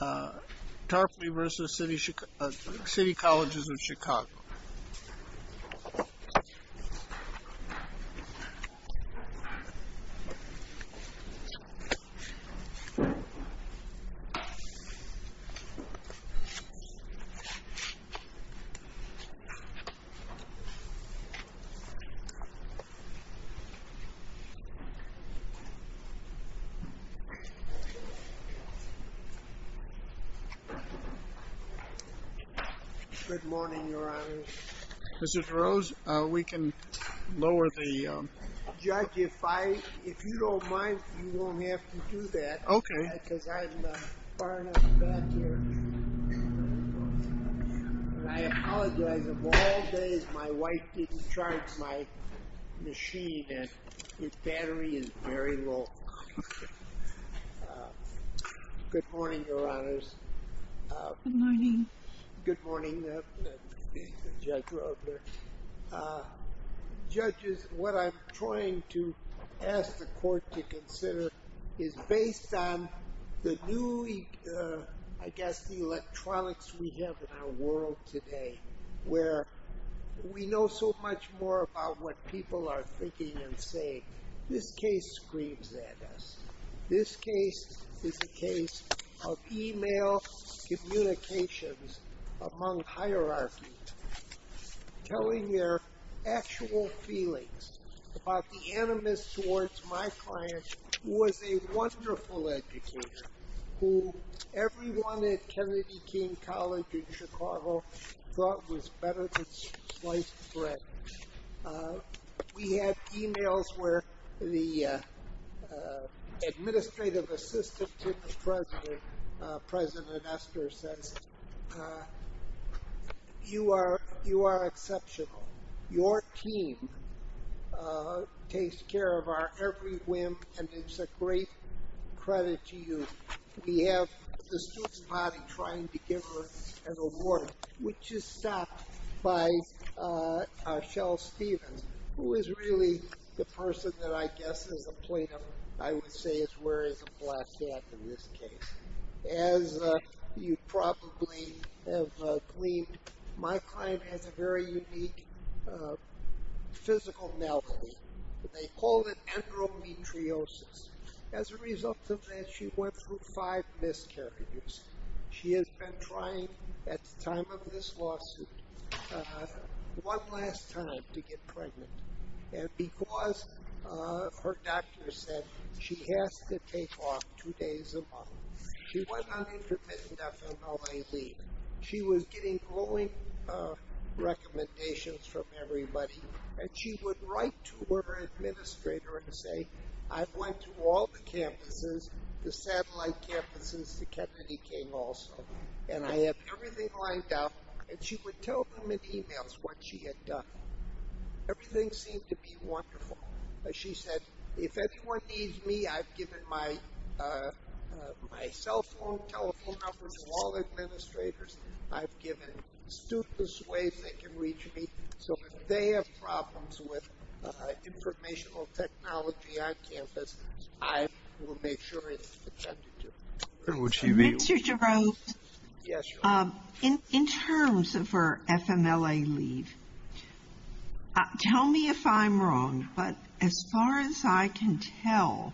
Tarpley v. City Colleges of Chicago Good morning, Your Honor. Mr. Tarose, we can lower the... Judge, if you don't mind, you won't have to do that. Okay. Because I'm far enough back here. I apologize. Of all days, my wife didn't charge my machine, and its battery is very low. Good morning, Your Honors. Good morning. Good morning, Judge Rogler. Judges, what I'm trying to ask the Court to consider is based on the new, I guess, the electronics we have in our world today, where we know so much more about what people are thinking and saying. This case screams at us. This case is a case of e-mail communications among hierarchies telling their actual feelings about the animus towards my client, who was a wonderful educator, who everyone at Kennedy King College in Chicago thought was better than sliced bread. We had e-mails where the administrative assistant to the president, President Esther, says, You are exceptional. Your team takes care of our every whim, and it's a great credit to you. We have the student body trying to give her an award, which is stopped by Shell Stephens, who is really the person that I guess is a plaintiff, I would say is where is a black cat in this case. As you probably have gleaned, my client has a very unique physical malady. They call it endometriosis. As a result of that, she went through five miscarriages. She has been trying, at the time of this lawsuit, one last time to get pregnant. Because her doctor said she has to take off two days a month, she was getting glowing recommendations from everybody, and she would write to her administrator and say, I went to all the campuses, the satellite campuses, the Kennedy King also, and I have everything lined up, and she would tell them in e-mails what she had done. Everything seemed to be wonderful. She said, if anyone needs me, I've given my cell phone, telephone number to all administrators. I've given students ways they can reach me, so if they have problems with informational technology on campus, I will make sure it's attended to. Mr. Jerome, in terms of her FMLA leave, tell me if I'm wrong, but as far as I can tell,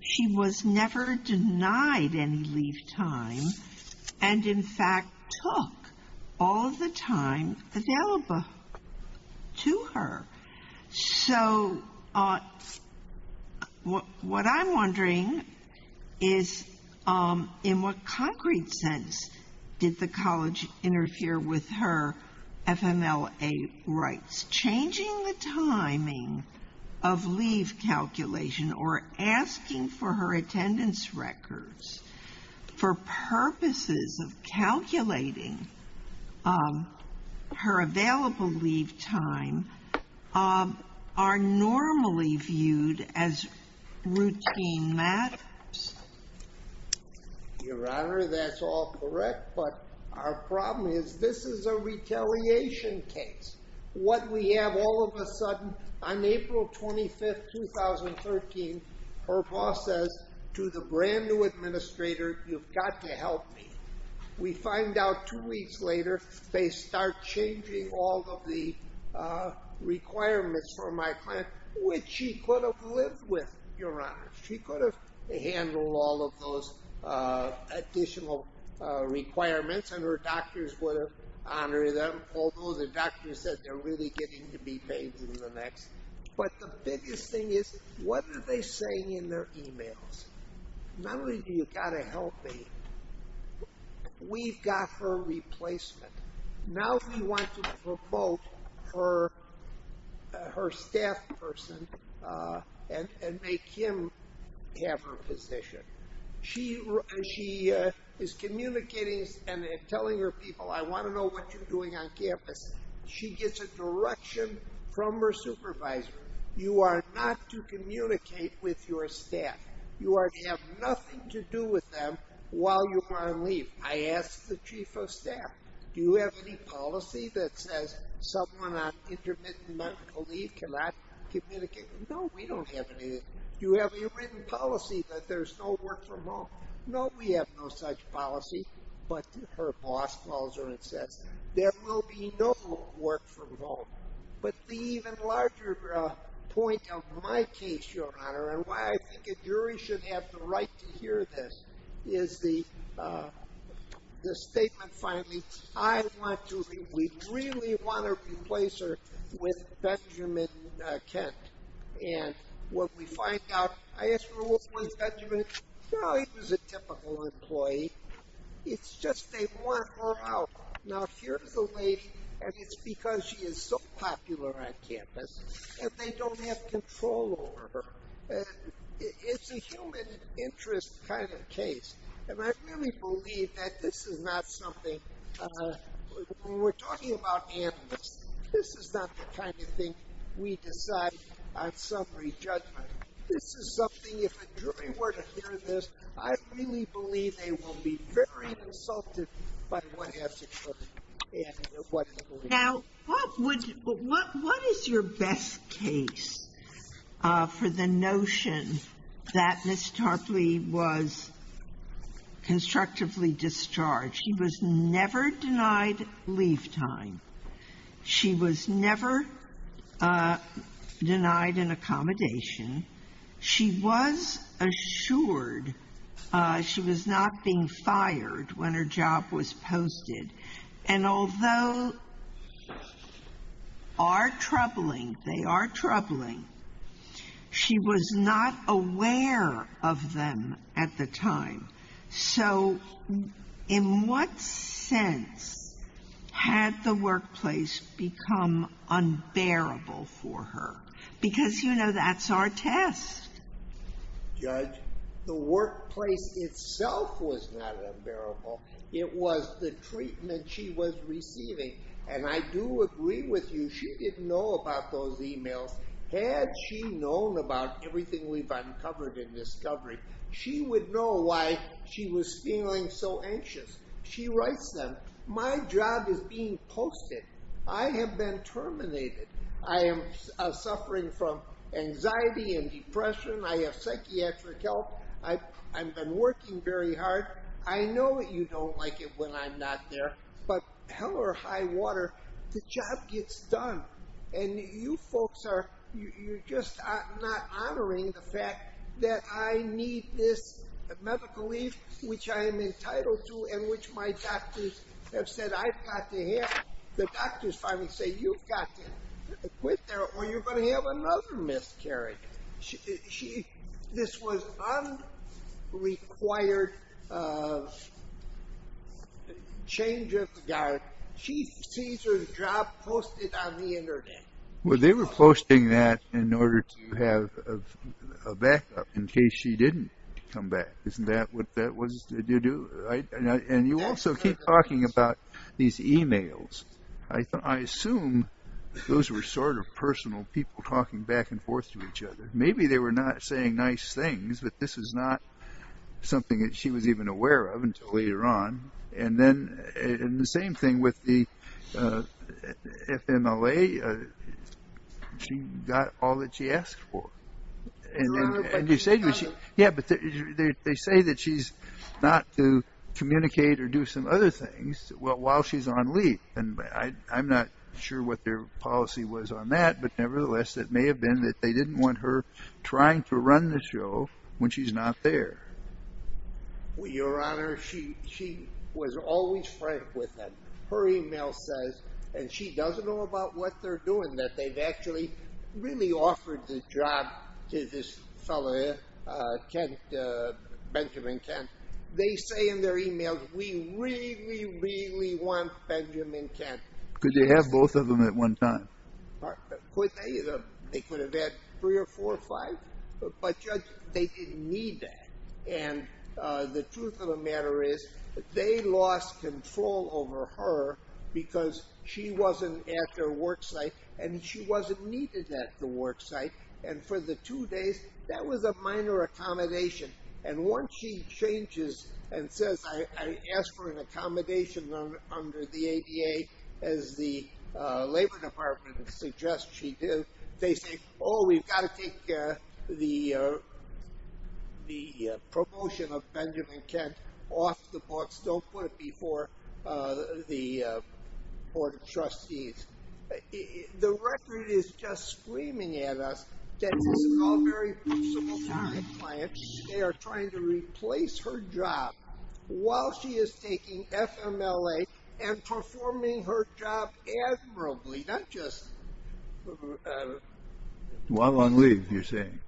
she was never denied any leave time, and, in fact, took all of the time available to her. So what I'm wondering is, in what concrete sense did the college interfere with her FMLA rights? Changing the timing of leave calculation or asking for her attendance records for purposes of calculating her available leave time are normally viewed as routine matters? Your Honor, that's all correct, but our problem is this is a retaliation case. What we have all of a sudden, on April 25, 2013, her boss says to the brand new administrator, you've got to help me. We find out two weeks later, they start changing all of the requirements for my client, which she could have lived with, Your Honor. She could have handled all of those additional requirements, and her doctors would have honored them, although the doctor said they're really getting to be paid for the next. But the biggest thing is, what are they saying in their emails? Not only do you got to help me, we've got her replacement. Now we want to promote her staff person and make him have her position. She is communicating and telling her people, I want to know what you're doing on campus. She gets a direction from her supervisor, you are not to communicate with your staff. You have nothing to do with them while you are on leave. I asked the chief of staff, do you have any policy that says someone on intermittent medical leave cannot communicate? No, we don't have any. Do you have any written policy that there's no work from home? No, we have no such policy. But her boss calls her and says, But the even larger point of my case, Your Honor, and why I think a jury should have the right to hear this, is the statement, finally, I want to, we really want to replace her with Benjamin Kent. And what we find out, I asked her, what was Benjamin? He was a typical employee. It's just they want her out. Now here's the lady, and it's because she is so popular on campus, and they don't have control over her. It's a human interest kind of case. And I really believe that this is not something, when we're talking about animus, this is not the kind of thing we decide on summary judgment. This is something, if a jury were to hear this, I really believe they will be very insulted by what has occurred. Now, what is your best case for the notion that Ms. Tarpley was constructively discharged? She was never denied leave time. She was never denied an accommodation. She was assured she was not being fired when her job was posted. And although our troubling, they are troubling, she was not aware of them at the time. So in what sense had the workplace become unbearable for her? Because, you know, that's our test. Judge, the workplace itself was not unbearable. It was the treatment she was receiving. And I do agree with you, she didn't know about those emails. Had she known about everything we've uncovered and discovered, she would know why she was feeling so anxious. She writes them, my job is being posted. I have been terminated. I am suffering from anxiety and depression. I have psychiatric help. I've been working very hard. I know that you don't like it when I'm not there. But hell or high water, the job gets done. And you folks are just not honoring the fact that I need this medical leave, which I am entitled to and which my doctors have said I've got to have. The doctors finally say you've got to quit or you're going to have another miscarriage. This was unrequired change of guard. She sees her job posted on the Internet. Well, they were posting that in order to have a backup in case she didn't come back. Isn't that what that was to do? And you also keep talking about these emails. I assume those were sort of personal people talking back and forth to each other. Maybe they were not saying nice things, but this is not something that she was even aware of until later on. And the same thing with the FMLA. She got all that she asked for. Yeah, but they say that she's not to communicate or do some other things while she's on leave. And I'm not sure what their policy was on that. But nevertheless, it may have been that they didn't want her trying to run the show when she's not there. Your Honor, she was always frank with them. Her email says, and she doesn't know about what they're doing, that they've actually really offered the job to this fellow, Benjamin Kent. They say in their emails, we really, really want Benjamin Kent. Could they have both of them at one time? Could they? They could have had three or four or five. But, Judge, they didn't need that. And the truth of the matter is they lost control over her because she wasn't at their worksite and she wasn't needed at the worksite. And for the two days, that was a minor accommodation. And once she changes and says, I asked for an accommodation under the ADA, as the Labor Department suggests she did, they say, oh, we've got to take the promotion of Benjamin Kent off the books. Don't put it before the Board of Trustees. The record is just screaming at us that this is all very possible time. Clients, they are trying to replace her job while she is taking FMLA and performing her job admirably. Not just while on leave, you're saying.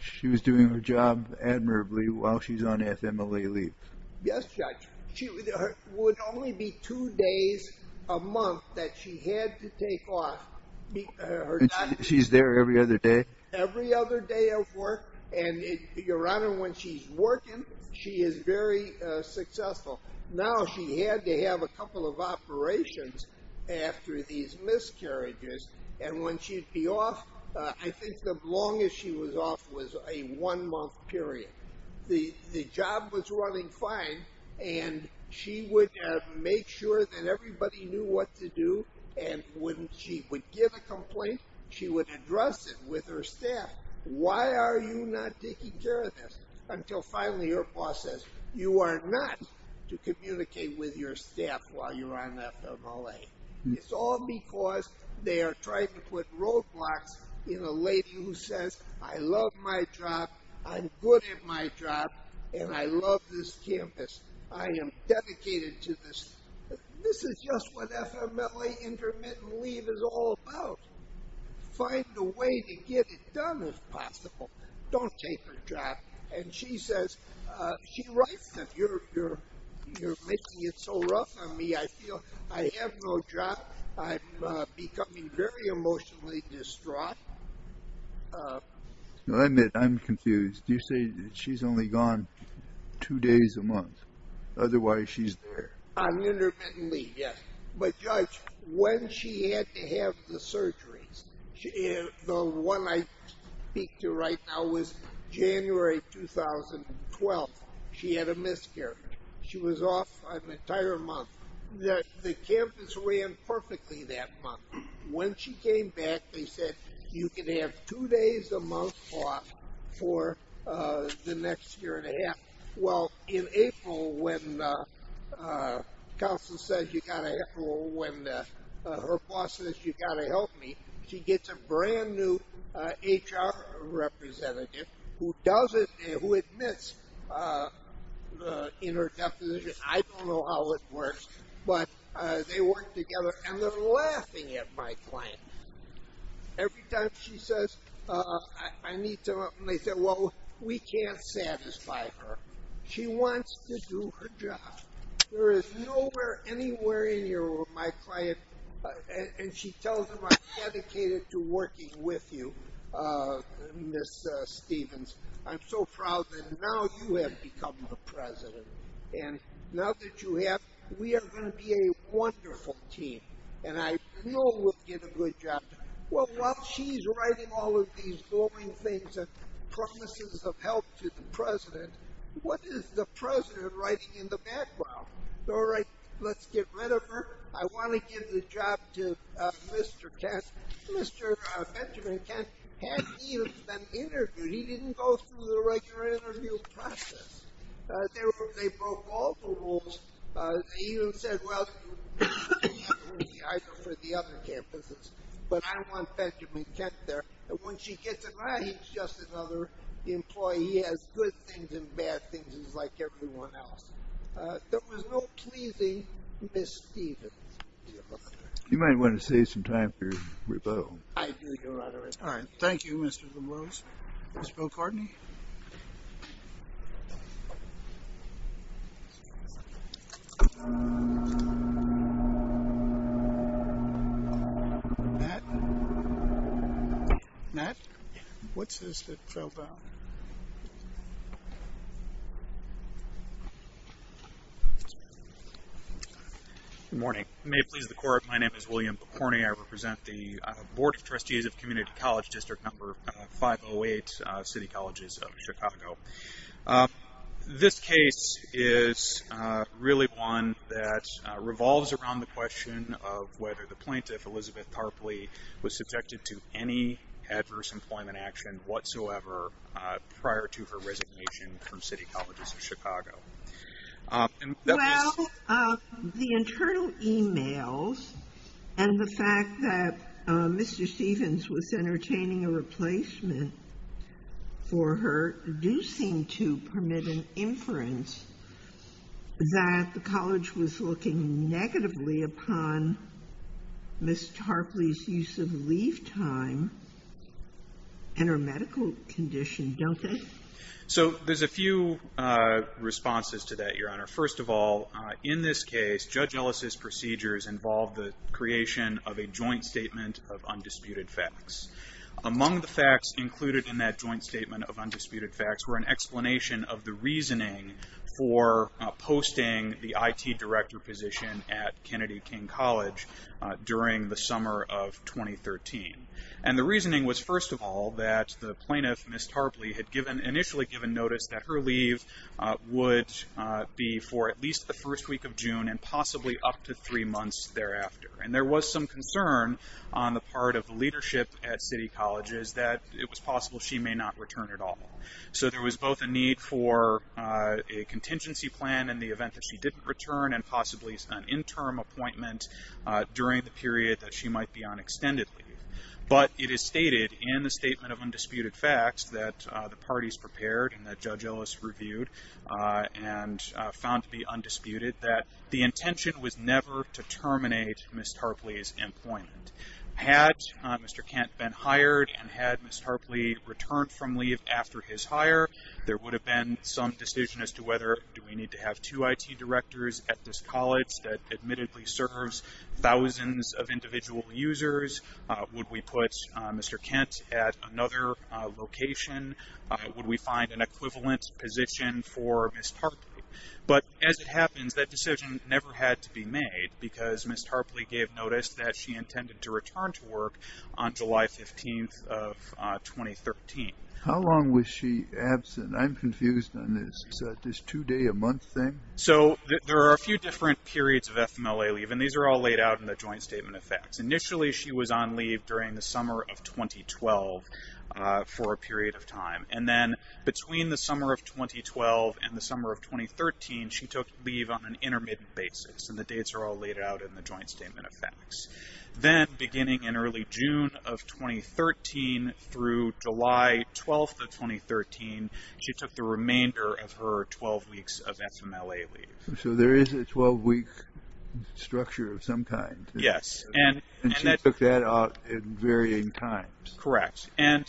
She was doing her job admirably while she's on FMLA leave. Yes, Judge. It would only be two days a month that she had to take off. She's there every other day? Every other day of work. And, Your Honor, when she's working, she is very successful. Now she had to have a couple of operations after these miscarriages. And when she'd be off, I think the longest she was off was a one-month period. The job was running fine. And she would make sure that everybody knew what to do. And when she would give a complaint, she would address it with her staff. Why are you not taking care of this? Until finally her boss says, you are not to communicate with your staff while you're on FMLA. It's all because they are trying to put roadblocks in a lady who says, I love my job. I'm good at my job. And I love this campus. I am dedicated to this. This is just what FMLA intermittent leave is all about. Find a way to get it done if possible. Don't take her job. And she says, she writes that you're making it so rough on me. I feel I have no job. I'm becoming very emotionally distraught. I admit, I'm confused. You say that she's only gone two days a month. Otherwise, she's there. On intermittent leave, yes. But, Judge, when she had to have the surgeries, the one I speak to right now was January 2012. She had a miscarriage. She was off an entire month. The campus ran perfectly that month. When she came back, they said, you can have two days a month off for the next year and a half. Well, in April, when her boss says you've got to help me, she gets a brand new HR representative who admits in her deposition, I don't know how it works, but they work together and they're laughing at my client. Every time she says, I need to, and they say, well, we can't satisfy her. She wants to do her job. There is nowhere anywhere in your world, my client, and she tells them I'm dedicated to working with you, Ms. Stevens. I'm so proud that now you have become a president. And now that you have, we are going to be a wonderful team, and I know we'll get a good job. Well, while she's writing all of these glowing things and promises of help to the president, what is the president writing in the background? All right, let's get rid of her. I want to give the job to Mr. Kent. Mr. Benjamin Kent had been interviewed. He didn't go through the regular interview process. They broke all the rules. They even said, well, you can't interview me either for the other campuses, but I want Benjamin Kent there. And when she gets it right, he's just another employee. He has good things and bad things, just like everyone else. There was no pleasing Ms. Stevens. You might want to save some time for your rebuttal. I do, Your Honor. All right, thank you, Mr. Lemos. Mr. Bill Cardney? Matt? Matt? What's this that fell down? Good morning. May it please the Court, my name is William McCorney. I represent the Board of Trustees of Community College District No. 508, City Colleges of Chicago. This case is really one that revolves around the question of whether the plaintiff, Elizabeth Tarpley, was subjected to any adverse employment action whatsoever prior to her resignation from City Colleges of Chicago. Well, the internal e-mails and the fact that Mr. Stevens was entertaining a replacement for her do seem to permit an inference that the college was looking negatively upon Ms. Tarpley's use of leave time and her medical condition, don't they? So there's a few responses to that, Your Honor. First of all, in this case, Judge Ellis' procedures involved the creation of a joint statement of undisputed facts. Among the facts included in that joint statement of undisputed facts were an explanation of the reasoning for posting the IT director position at Kennedy King College during the summer of 2013. And the reasoning was, first of all, that the plaintiff, Ms. Tarpley, had initially given notice that her leave would be for at least the first week of June and possibly up to three months thereafter. And there was some concern on the part of the leadership at City Colleges that it was possible she may not return at all. So there was both a need for a contingency plan in the event that she didn't return and possibly an interim appointment during the period that she might be on extended leave. But it is stated in the statement of undisputed facts that the parties prepared and that Judge Ellis reviewed and found to be undisputed that the intention was never to terminate Ms. Tarpley's employment. Had Mr. Kent been hired and had Ms. Tarpley returned from leave after his hire, there would have been some decision as to whether do we need to have two IT directors at this college that admittedly serves thousands of individual users? Would we put Mr. Kent at another location? Would we find an equivalent position for Ms. Tarpley? But as it happens, that decision never had to be made because Ms. Tarpley gave notice that she intended to return to work on July 15th of 2013. How long was she absent? I'm confused on this. Is that this two-day-a-month thing? So there are a few different periods of FMLA leave, and these are all laid out in the joint statement of facts. Initially, she was on leave during the summer of 2012 for a period of time. And then between the summer of 2012 and the summer of 2013, she took leave on an intermittent basis, and the dates are all laid out in the joint statement of facts. Then beginning in early June of 2013 through July 12th of 2013, she took the remainder of her 12 weeks of FMLA leave. So there is a 12-week structure of some kind. Yes. And she took that out at varying times. Correct. And,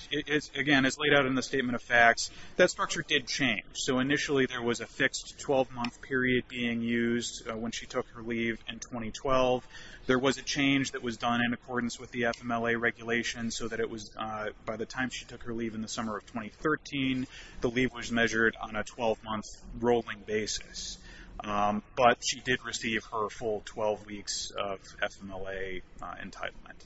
again, as laid out in the statement of facts, that structure did change. So initially there was a fixed 12-month period being used when she took her leave in 2012. There was a change that was done in accordance with the FMLA regulations so that it was by the time she took her leave in the summer of 2013, the leave was measured on a 12-month rolling basis. But she did receive her full 12 weeks of FMLA entitlement.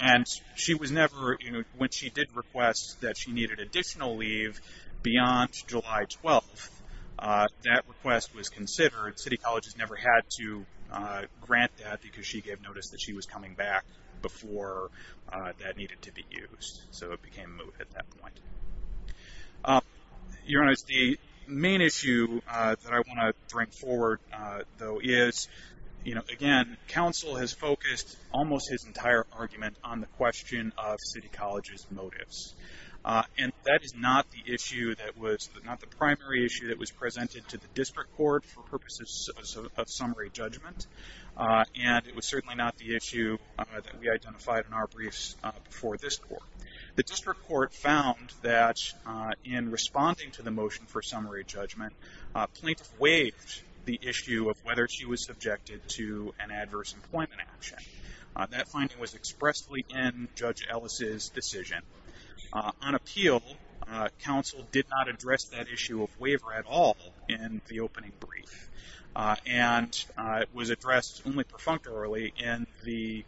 And she was never, when she did request that she needed additional leave beyond July 12th, that request was considered. City colleges never had to grant that because she gave notice that she was coming back before that needed to be used. So it became moot at that point. Your Honor, the main issue that I want to bring forward, though, is, you know, again, counsel has focused almost his entire argument on the question of city colleges' motives. And that is not the issue that was, not the primary issue that was presented to the district court for purposes of summary judgment. And it was certainly not the issue that we identified in our briefs before this court. The district court found that in responding to the motion for summary judgment, plaintiff waived the issue of whether she was subjected to an adverse employment action. That finding was expressly in Judge Ellis' decision. On appeal, counsel did not address that issue of waiver at all in the opening brief. And it was addressed only perfunctorily in the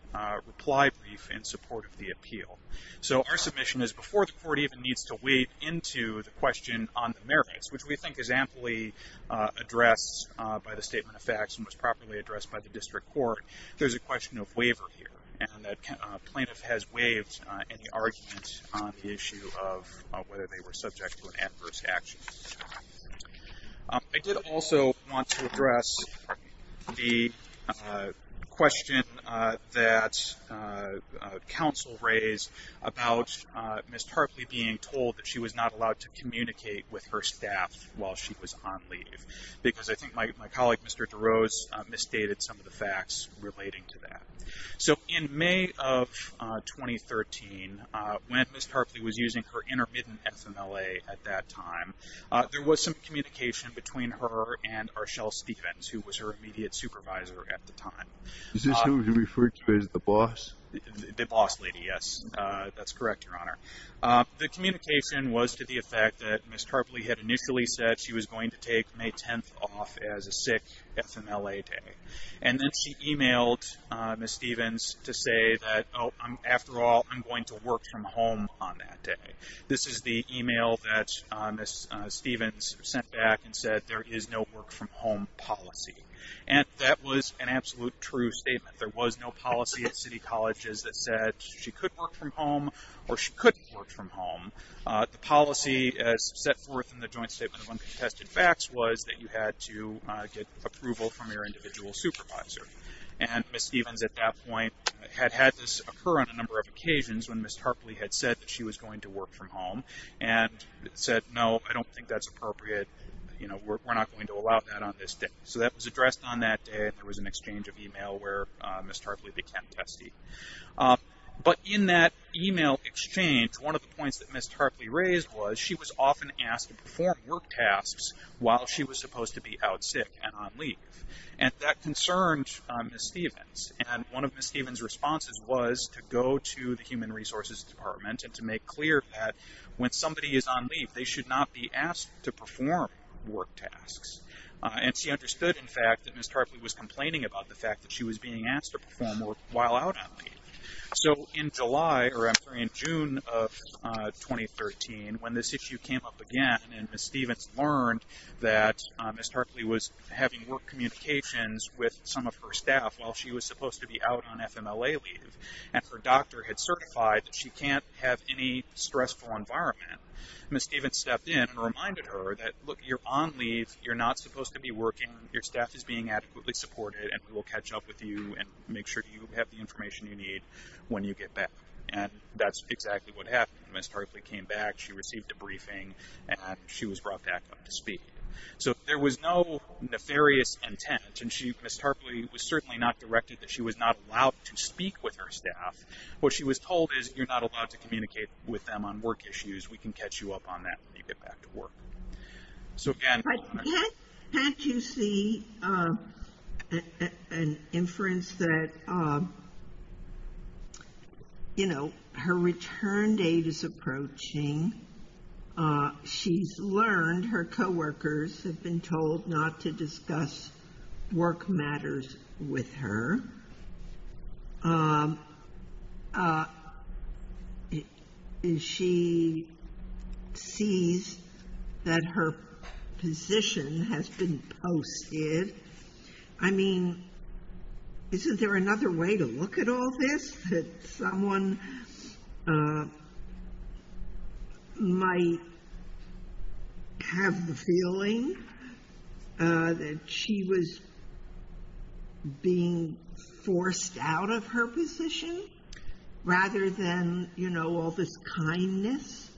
reply brief in support of the appeal. So our submission is before the court even needs to wade into the question on the merits, which we think is amply addressed by the statement of facts and was properly addressed by the district court, there's a question of waiver here. And the plaintiff has waived any argument on the issue of whether they were subject to an adverse action. I did also want to address the question that counsel raised about Ms. Tarpley being told that she was not allowed to communicate with her staff while she was on leave. Because I think my colleague, Mr. DeRose, misstated some of the facts relating to that. So in May of 2013, when Ms. Tarpley was using her intermittent FMLA at that time, there was some communication between her and Arshele Stephens, who was her immediate supervisor at the time. Is this who you referred to as the boss? The boss lady, yes. That's correct, Your Honor. The communication was to the effect that Ms. Tarpley had initially said she was going to take May 10th off as a sick FMLA day. And then she emailed Ms. Stephens to say that, oh, after all, I'm going to work from home on that day. This is the email that Ms. Stephens sent back and said there is no work from home policy. And that was an absolute true statement. There was no policy at city colleges that said she could work from home or she couldn't work from home. The policy set forth in the Joint Statement of Uncontested Facts was that you had to get approval from your individual supervisor. And Ms. Stephens at that point had had this occur on a number of occasions when Ms. Tarpley had said that she was going to work from home and said, no, I don't think that's appropriate. We're not going to allow that on this day. So that was addressed on that day. There was an exchange of email where Ms. Tarpley became testy. But in that email exchange, one of the points that Ms. Tarpley raised was she was often asked to perform work tasks while she was supposed to be out sick and on leave. And that concerned Ms. Stephens. And one of Ms. Stephens' responses was to go to the Human Resources Department and to make clear that when somebody is on leave, they should not be asked to perform work tasks. And she understood, in fact, that Ms. Tarpley was complaining about the fact that she was being asked to perform work while out on leave. So in July, or I'm sorry, in June of 2013, when this issue came up again and Ms. Stephens learned that Ms. Tarpley was having work communications with some of her staff while she was supposed to be out on FMLA leave and her doctor had certified that she can't have any stressful environment, Ms. Stephens stepped in and reminded her that, look, you're on leave, you're not supposed to be working, your staff is being adequately supported, and we will catch up with you and make sure you have the information you need when you get back. And that's exactly what happened. Ms. Tarpley came back, she received a briefing, and she was brought back up to speed. So there was no nefarious intent, and Ms. Tarpley was certainly not directed that she was not allowed to speak with her staff. What she was told is you're not allowed to communicate with them on work issues. We can catch you up on that when you get back to work. So again... Can't you see an inference that, you know, her return date is approaching. She's learned her co-workers have been told not to discuss work matters with her. She sees that her position has been posted. I mean, isn't there another way to look at all this? That someone might have the feeling that she was being forced out of her position, rather than, you know, all this kindness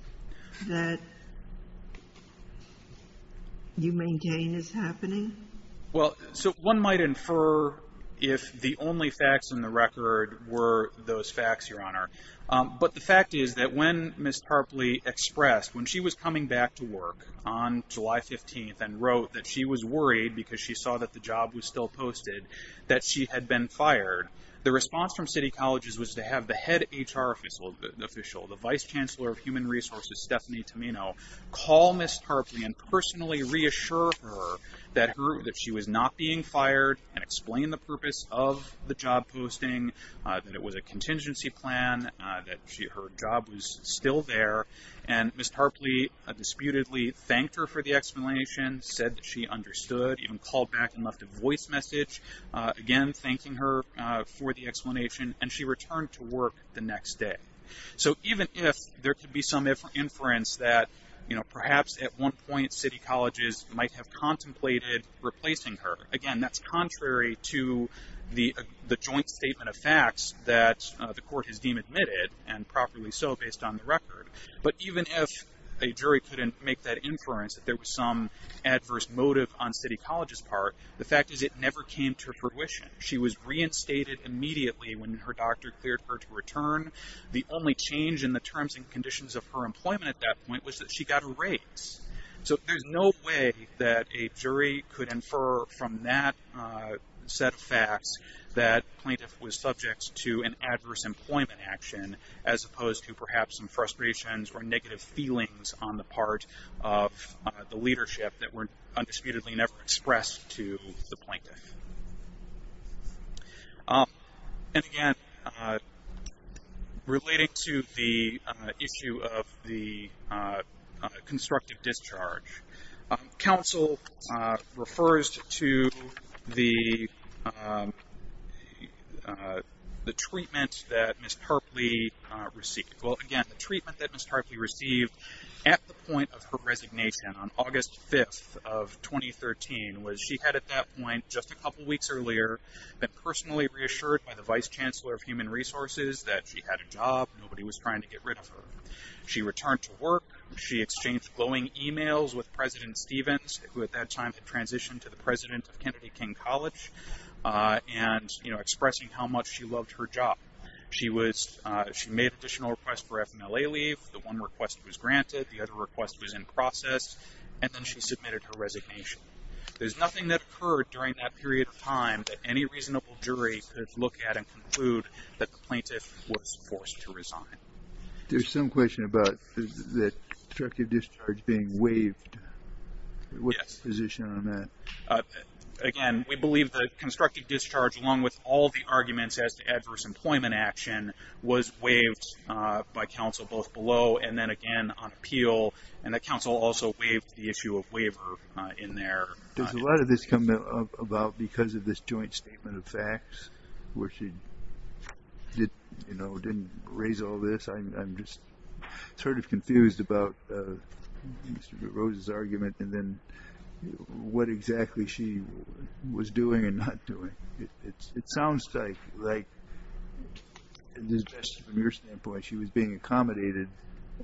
that you maintain is happening? Well, so one might infer if the only facts in the record were those facts, Your Honor. But the fact is that when Ms. Tarpley expressed, when she was coming back to work on July 15th and wrote that she was worried because she saw that the job was still posted, that she had been fired, the response from City Colleges was to have the head HR official, the Vice Chancellor of Human Resources, Stephanie Tomino, call Ms. Tarpley and personally reassure her that she was not being fired and explain the purpose of the job posting, that it was a contingency plan, that her job was still there. And Ms. Tarpley disputedly thanked her for the explanation, said that she understood, even called back and left a voice message, again, thanking her for the explanation, and she returned to work the next day. So even if there could be some inference that, you know, perhaps at one point, City Colleges might have contemplated replacing her, again, that's contrary to the joint statement of facts that the court has deemed admitted, and properly so based on the record. But even if a jury couldn't make that inference that there was some adverse motive on City Colleges' part, the fact is it never came to fruition. She was reinstated immediately when her doctor cleared her to return. The only change in the terms and conditions of her employment at that point was that she got a raise. So there's no way that a jury could infer from that set of facts that plaintiff was subject to an adverse employment action as opposed to perhaps some frustrations or negative feelings on the part of the leadership that were undisputedly never expressed to the plaintiff. And again, relating to the issue of the constructive discharge, counsel refers to the treatment that Ms. Harpley received. Well, again, the treatment that Ms. Harpley received at the point of her resignation on August 5th of 2013 was she had at that point, just a couple weeks earlier, been personally reassured by the Vice Chancellor of Human Resources that she had a job, nobody was trying to get rid of her. She returned to work, she exchanged glowing emails with President Stevens, who at that time had transitioned to the president of Kennedy King College, and expressing how much she loved her job. She made additional requests for FMLA leave, the one request was granted, the other request was in process, and then she submitted her resignation. There's nothing that occurred during that period of time that any reasonable jury could look at and conclude that the plaintiff was forced to resign. There's some question about the constructive discharge being waived. What's the position on that? Again, we believe the constructive discharge, along with all the arguments as to adverse employment action, was waived by counsel both below and then again on appeal, and that counsel also waived the issue of waiver in there. Does a lot of this come about because of this joint statement of facts, where she didn't raise all this? I'm just sort of confused about Mr. Rose's argument, and then what exactly she was doing and not doing. It sounds like, at least from your standpoint, she was being accommodated,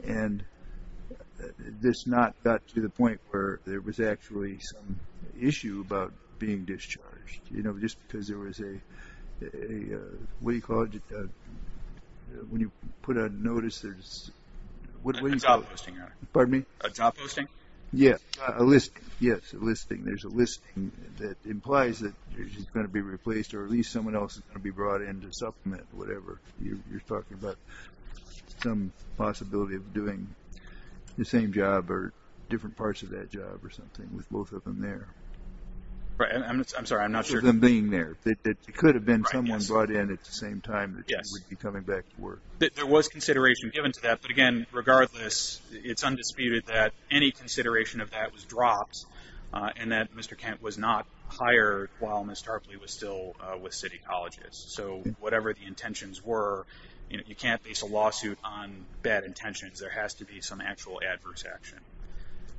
and this not got to the point where there was actually some issue about being discharged. You know, just because there was a, what do you call it? When you put a notice, there's, what do you call it? A job posting. Pardon me? A job posting? Yeah, a listing. Yes, a listing. There's a listing that implies that she's going to be replaced or at least someone else is going to be brought in to supplement whatever. You're talking about some possibility of doing the same job or different parts of that job or something with both of them there. I'm sorry, I'm not sure. Both of them being there. It could have been someone brought in at the same time that she would be coming back to work. There was consideration given to that, but, again, regardless, it's undisputed that any consideration of that was dropped and that Mr. Kent was not hired while Ms. Tarpley was still with City Colleges. So whatever the intentions were, you can't base a lawsuit on bad intentions. There has to be some actual adverse action.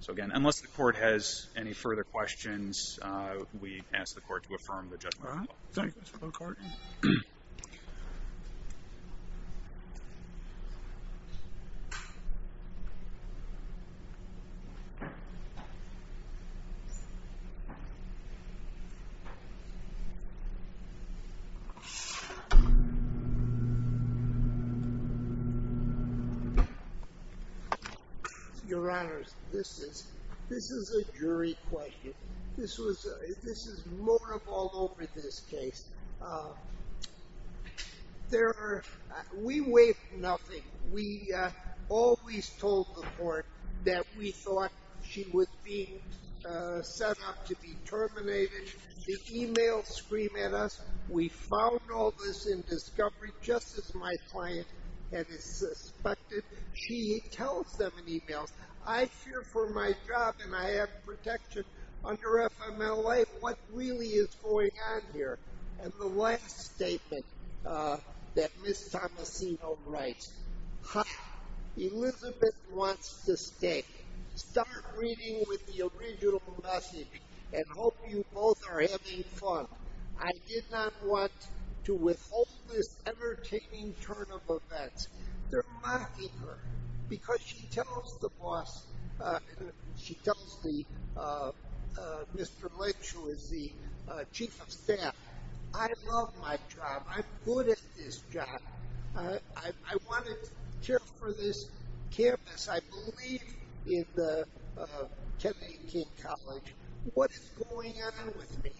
So, again, unless the court has any further questions, we ask the court to affirm the judgment. All right. Thank you, Mr. McCarty. Your Honors, this is a jury question. This is more of all over this case. We waived nothing. We always told the court that we thought she was being set up to be terminated. The emails scream at us. We found all this in discovery just as my client had suspected. She tells them in emails, I fear for my job and I have protection under FMLA. What really is going on here? And the last statement that Ms. Tomasino writes, Elizabeth wants to stay. Start reading with the original message and hope you both are having fun. I did not want to withhold this entertaining turn of events. They're mocking her because she tells the boss, she tells Mr. Lynch, who is the chief of staff, I love my job. I'm good at this job. I want to care for this campus. I believe in the Kennedy King College. What is going on with me?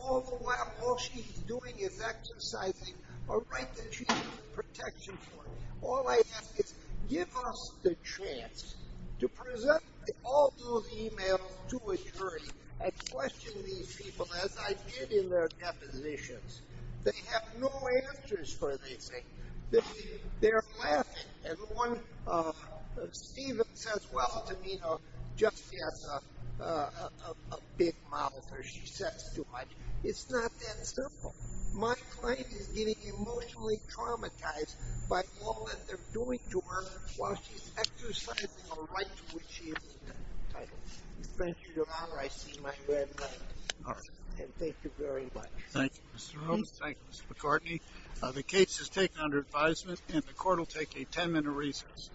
All she's doing is exercising a right that she has protection for. All I ask is give us the chance to present all those emails to a jury and question these people as I did in their depositions. They have no answers for this. They're laughing. Steven says, well, Tomino just has a big mouth or she says too much. It's not that simple. My client is getting emotionally traumatized by all that they're doing to her while she's exercising a right to which she is entitled. Thank you, Your Honor. I see my red light. And thank you very much. Thank you, Mr. Holmes. Thank you, Mr. McCartney. The case is taken under advisement, and the court will take a ten-minute recess.